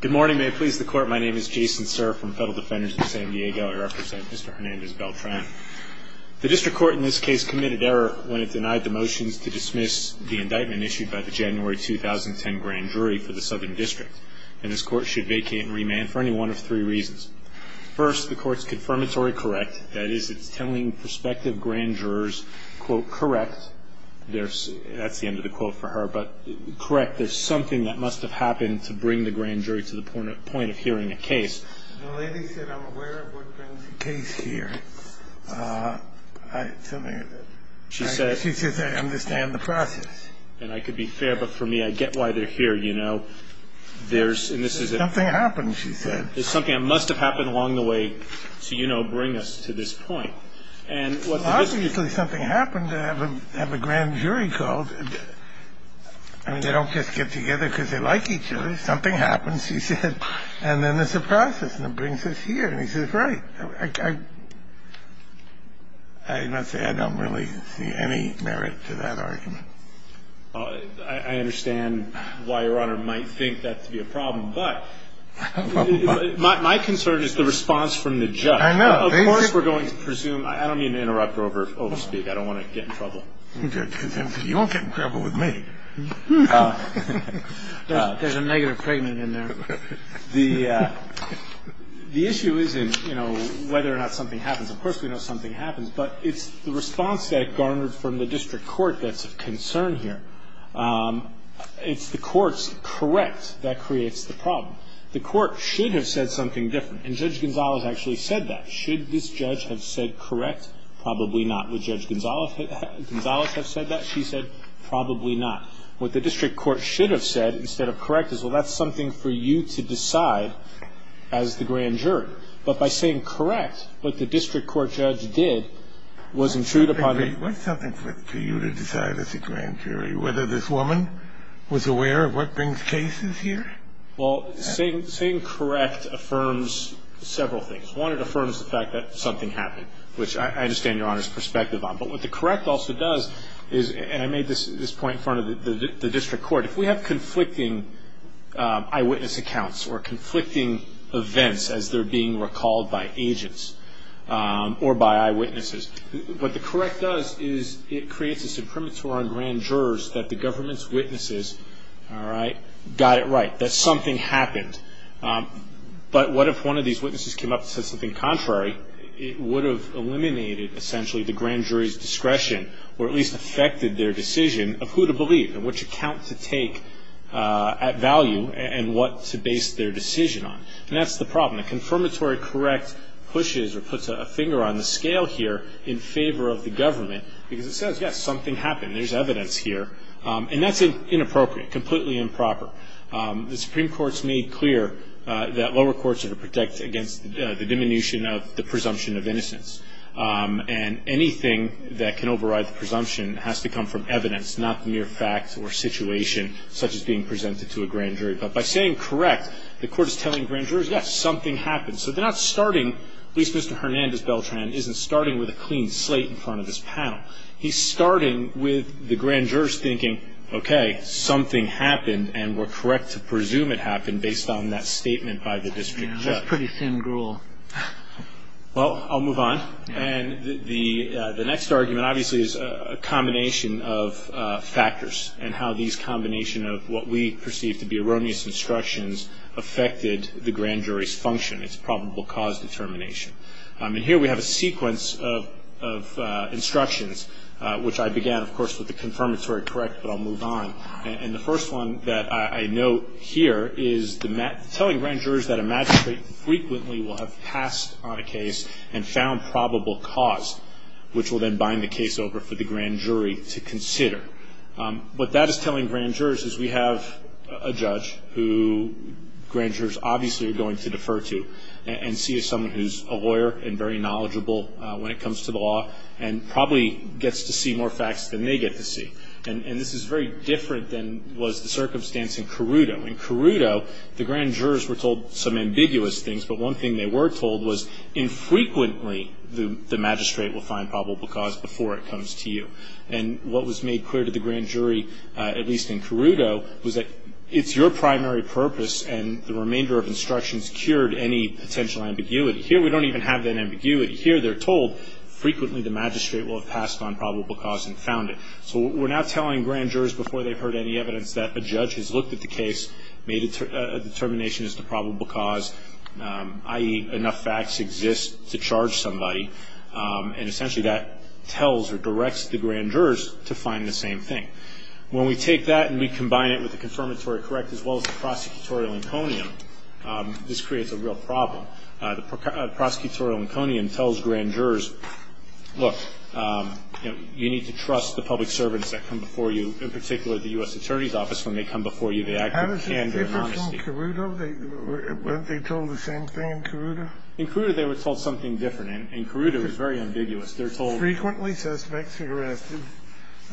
Good morning, may it please the court. My name is Jason Serra from Federal Defenders of San Diego. I represent Mr. Hernandez-Beltran. The district court in this case committed error when it denied the motions to dismiss the indictment issued by the January 2010 grand jury for the Southern District, and this court should vacate and remand for any one of three reasons. First, the court's confirmatory correct, that is, it's telling prospective grand jurors, quote, correct, that's the end of the quote for her, but correct, there's something that must have happened to bring the grand jury to the point of hearing a case. The lady said I'm aware of what brings the case here. She says I understand the process. And I could be fair, but for me, I get why they're here, you know. Something happened, she said. There's something that must have happened along the way to, you know, bring us to this point. Possibly something happened to have a grand jury called. I mean, they don't just get together because they like each other. Something happens, she said, and then there's a process, and it brings us here. And he says, right. I must say I don't really see any merit to that argument. I understand why Your Honor might think that to be a problem, but my concern is the response from the judge. I know. Of course we're going to presume. I don't mean to interrupt or overspeak. I don't want to get in trouble. You won't get in trouble with me. There's a negative pregnant in there. The issue isn't, you know, whether or not something happens. Of course we know something happens, but it's the response that garnered from the district court that's of concern here. It's the court's correct that creates the problem. The court should have said something different. And Judge Gonzales actually said that. Should this judge have said correct? Probably not. Would Judge Gonzales have said that? She said probably not. What the district court should have said instead of correct is, well, that's something for you to decide as the grand jury. But by saying correct, what the district court judge did was intrude upon the ---- What's something for you to decide as the grand jury? Whether this woman was aware of what brings cases here? Well, saying correct affirms several things. One, it affirms the fact that something happened, which I understand Your Honor's perspective on. But what the correct also does is, and I made this point in front of the district court, if we have conflicting eyewitness accounts or conflicting events as they're being recalled by agents or by eyewitnesses, what the correct does is it creates a suprematory on grand jurors that the government's witnesses, all right, got it right. That something happened. But what if one of these witnesses came up and said something contrary? It would have eliminated essentially the grand jury's discretion or at least affected their decision of who to believe and which account to take at value and what to base their decision on. And that's the problem. A confirmatory correct pushes or puts a finger on the scale here in favor of the government because it says, yes, something happened. There's evidence here. And that's inappropriate, completely improper. The Supreme Court's made clear that lower courts are to protect against the diminution of the presumption of innocence. And anything that can override the presumption has to come from evidence, not mere facts or situation, such as being presented to a grand jury. But by saying correct, the court is telling grand jurors, yes, something happened. So they're not starting, at least Mr. Hernandez-Beltran isn't starting with a clean slate in front of this panel. He's starting with the grand jurors thinking, okay, something happened and we're correct to presume it happened based on that statement by the district judge. That's pretty thin gruel. Well, I'll move on. And the next argument obviously is a combination of factors and how these combination of what we perceive to be erroneous instructions affected the grand jury's function, its probable cause determination. And here we have a sequence of instructions, which I began, of course, with the confirmatory correct, but I'll move on. And the first one that I note here is telling grand jurors that a magistrate frequently will have passed on a case and found probable cause, which will then bind the case over for the grand jury to consider. What that is telling grand jurors is we have a judge who grand jurors obviously are going to defer to and see someone who's a lawyer and very knowledgeable when it comes to the law and probably gets to see more facts than they get to see. And this is very different than was the circumstance in Carrudo. In Carrudo, the grand jurors were told some ambiguous things, but one thing they were told was infrequently the magistrate will find probable cause before it comes to you. And what was made clear to the grand jury, at least in Carrudo, was that it's your primary purpose and the remainder of instructions cured any potential ambiguity. Here we don't even have that ambiguity. Here they're told frequently the magistrate will have passed on probable cause and found it. So we're now telling grand jurors before they've heard any evidence that a judge has looked at the case, made a determination as to probable cause, i.e., enough facts exist to charge somebody, and essentially that tells or directs the grand jurors to find the same thing. When we take that and we combine it with the confirmatory correct as well as the prosecutorial inconium, this creates a real problem. The prosecutorial inconium tells grand jurors, look, you need to trust the public servants that come before you, in particular the U.S. Attorney's Office. When they come before you, they act with candor and honesty. How does it differ from Carrudo? Weren't they told the same thing in Carrudo? In Carrudo, they were told something different. In Carrudo, it was very ambiguous. They're told frequently suspects are arrested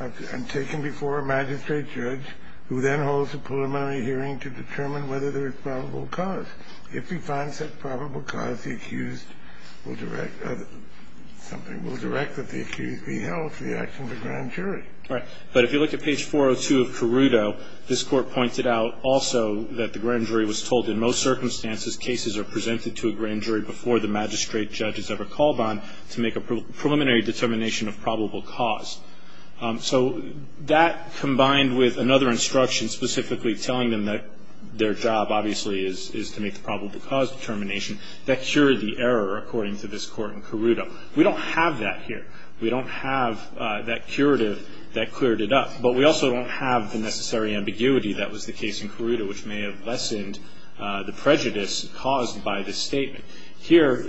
and taken before a magistrate judge who then holds a preliminary hearing to determine whether there is probable cause. If he finds that probable cause, the accused will direct something, will direct that the accused be held for the action of a grand jury. Right. But if you look at page 402 of Carrudo, this Court pointed out also that the grand jury was told in most circumstances cases are presented to a grand jury before the magistrate judge has ever called on to make a preliminary determination of probable cause. So that, combined with another instruction specifically telling them that their job, obviously, is to make the probable cause determination, that cured the error, according to this Court in Carrudo. We don't have that here. We don't have that curative that cleared it up. But we also don't have the necessary ambiguity that was the case in Carrudo, which may have lessened the prejudice caused by this statement. Here,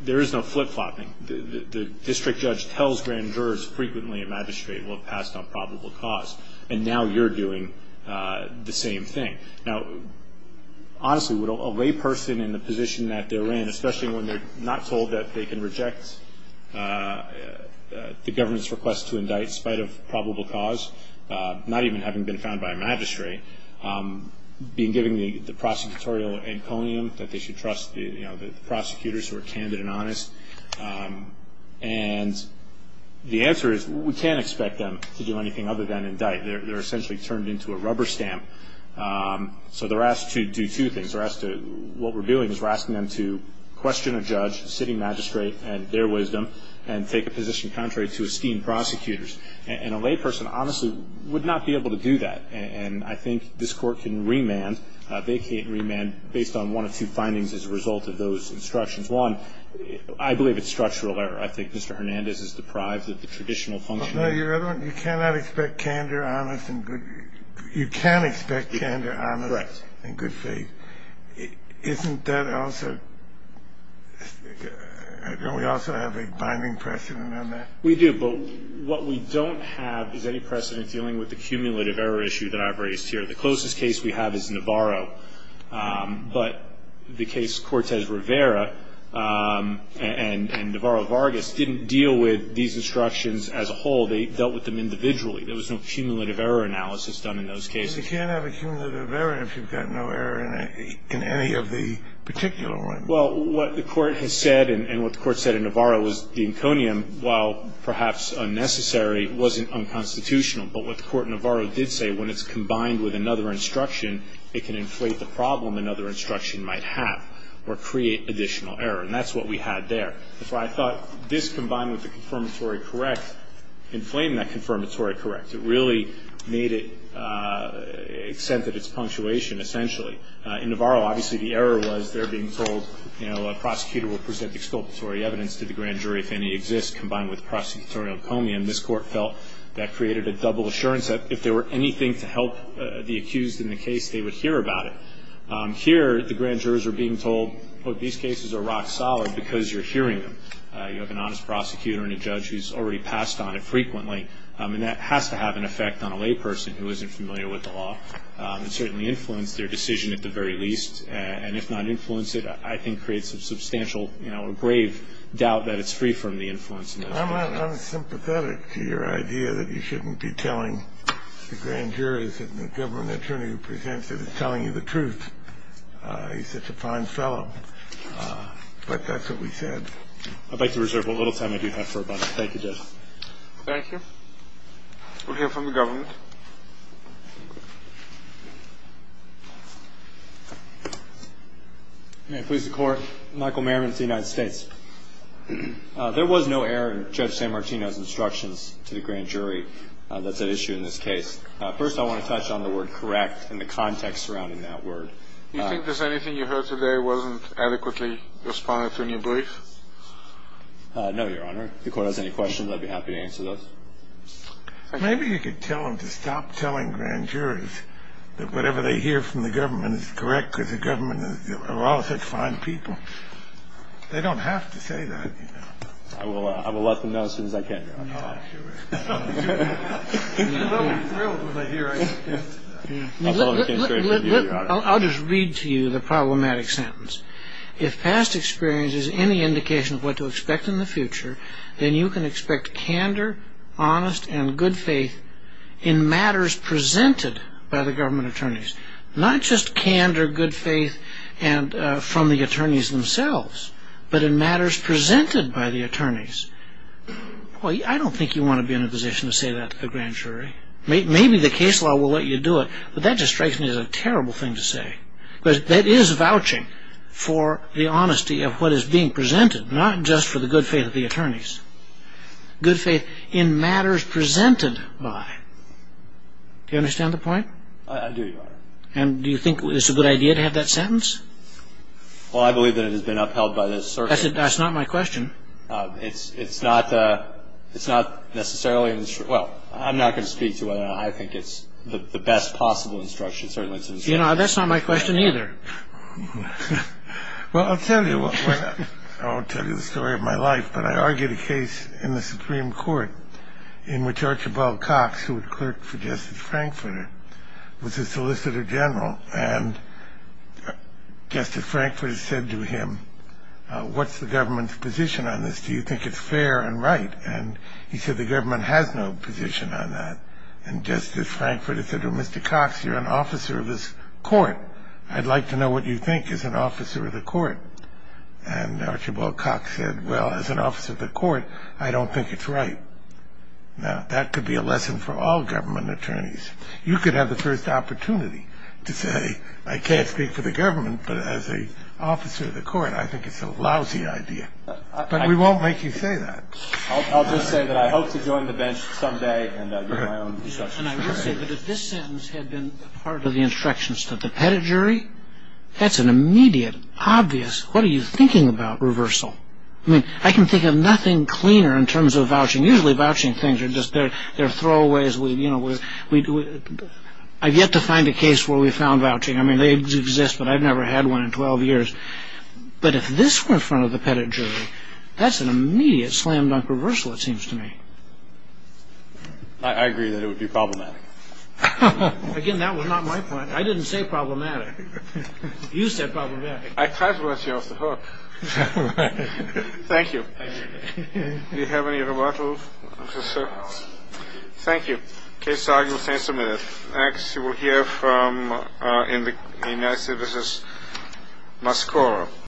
there is no flip-flopping. The district judge tells grand jurors frequently a magistrate will pass on probable cause. And now you're doing the same thing. Now, honestly, a layperson in the position that they're in, especially when they're not told that they can reject the government's request to indict, in spite of probable cause, not even having been found by a magistrate, being given the prosecutorial emponium that they should trust the prosecutors who are candid and honest. And the answer is we can't expect them to do anything other than indict. They're essentially turned into a rubber stamp. So they're asked to do two things. What we're doing is we're asking them to question a judge, city magistrate, and their wisdom, and take a position contrary to esteemed prosecutors. And a layperson, honestly, would not be able to do that. And I think this court can remand. They can't remand based on one or two findings as a result of those instructions. One, I believe it's structural error. I think Mr. Hernandez is deprived of the traditional function. Your other one, you cannot expect candor, honest and good faith. You can expect candor, honest and good faith. Correct. Isn't that also – don't we also have a binding precedent on that? We do. But what we don't have is any precedent dealing with the cumulative error issue that I've raised here. The closest case we have is Navarro. But the case Cortez-Rivera and Navarro-Vargas didn't deal with these instructions as a whole. They dealt with them individually. There was no cumulative error analysis done in those cases. But you can't have a cumulative error if you've got no error in any of the particular ones. Well, what the court has said and what the court said in Navarro was the inconium, while perhaps unnecessary, wasn't unconstitutional. But what the court in Navarro did say, when it's combined with another instruction, it can inflate the problem another instruction might have or create additional error. And that's what we had there. That's why I thought this, combined with the confirmatory correct, inflamed that confirmatory correct. It really made it – extended its punctuation, essentially. In Navarro, obviously, the error was they're being told, you know, a prosecutor will present exculpatory evidence to the grand jury if any exists, combined with prosecutorial conium. This court felt that created a double assurance that if there were anything to help the accused in the case, they would hear about it. Here, the grand jurors are being told, these cases are rock solid because you're hearing them. You have an honest prosecutor and a judge who's already passed on it frequently. And that has to have an effect on a layperson who isn't familiar with the law and certainly influence their decision at the very least, and if not influence it, I think creates a substantial, you know, a grave doubt that it's free from the influence. I'm unsympathetic to your idea that you shouldn't be telling the grand jurors that the government attorney who presents it is telling you the truth. He's such a fine fellow. But that's what we said. I'd like to reserve a little time I do have for a moment. Thank you, Judge. Thank you. We'll hear from the government. May it please the Court. Michael Merriman of the United States. There was no error in Judge San Martino's instructions to the grand jury that's at issue in this case. First, I want to touch on the word correct and the context surrounding that word. Do you think there's anything you heard today wasn't adequately responded to in your brief? No, Your Honor. If the Court has any questions, I'd be happy to answer those. Thank you. I wonder if you could tell them to stop telling grand juries that whatever they hear from the government is correct because the government are all such fine people. They don't have to say that, you know. I will let them know as soon as I can, Your Honor. Oh, sure. I'll be thrilled when I hear it. I'll just read to you the problematic sentence. If past experience is any indication of what to expect in the future, then you can expect candor, honest, and good faith in matters presented by the government attorneys. Not just candor, good faith from the attorneys themselves, but in matters presented by the attorneys. I don't think you want to be in a position to say that to the grand jury. Maybe the case law will let you do it, but that just strikes me as a terrible thing to say. Because that is vouching for the honesty of what is being presented, not just for the good faith of the attorneys. Good faith in matters presented by. Do you understand the point? I do, Your Honor. And do you think it's a good idea to have that sentence? Well, I believe that it has been upheld by the circuit. That's not my question. It's not necessarily in the circuit. Well, I'm not going to speak to it. I think it's the best possible instruction, certainly to the circuit. You know, that's not my question either. Well, I'll tell you the story of my life. But I argued a case in the Supreme Court in which Archibald Cox, who had clerked for Justice Frankfurter, was a solicitor general. And Justice Frankfurter said to him, what's the government's position on this? Do you think it's fair and right? And he said, the government has no position on that. And Justice Frankfurter said to Mr. Cox, you're an officer of this court. I'd like to know what you think as an officer of the court. And Archibald Cox said, well, as an officer of the court, I don't think it's right. Now, that could be a lesson for all government attorneys. You could have the first opportunity to say, I can't speak for the government, but as an officer of the court, I think it's a lousy idea. But we won't make you say that. I'll just say that I hope to join the bench someday and give my own discussion. And I will say that if this sentence had been part of the instructions to the pettit jury, that's an immediate, obvious, what are you thinking about reversal? I mean, I can think of nothing cleaner in terms of vouching. Usually, vouching things are just their throwaways. I've yet to find a case where we found vouching. I mean, they exist, but I've never had one in 12 years. But if this were in front of the pettit jury, that's an immediate slam dunk reversal, it seems to me. I agree that it would be problematic. Again, that was not my point. I didn't say problematic. You said problematic. I tried to let you off the hook. Thank you. Do you have any rebuttals, officer? No. Thank you. Case argument is submitted. Next you will hear from, in the United States, Ms. Cora.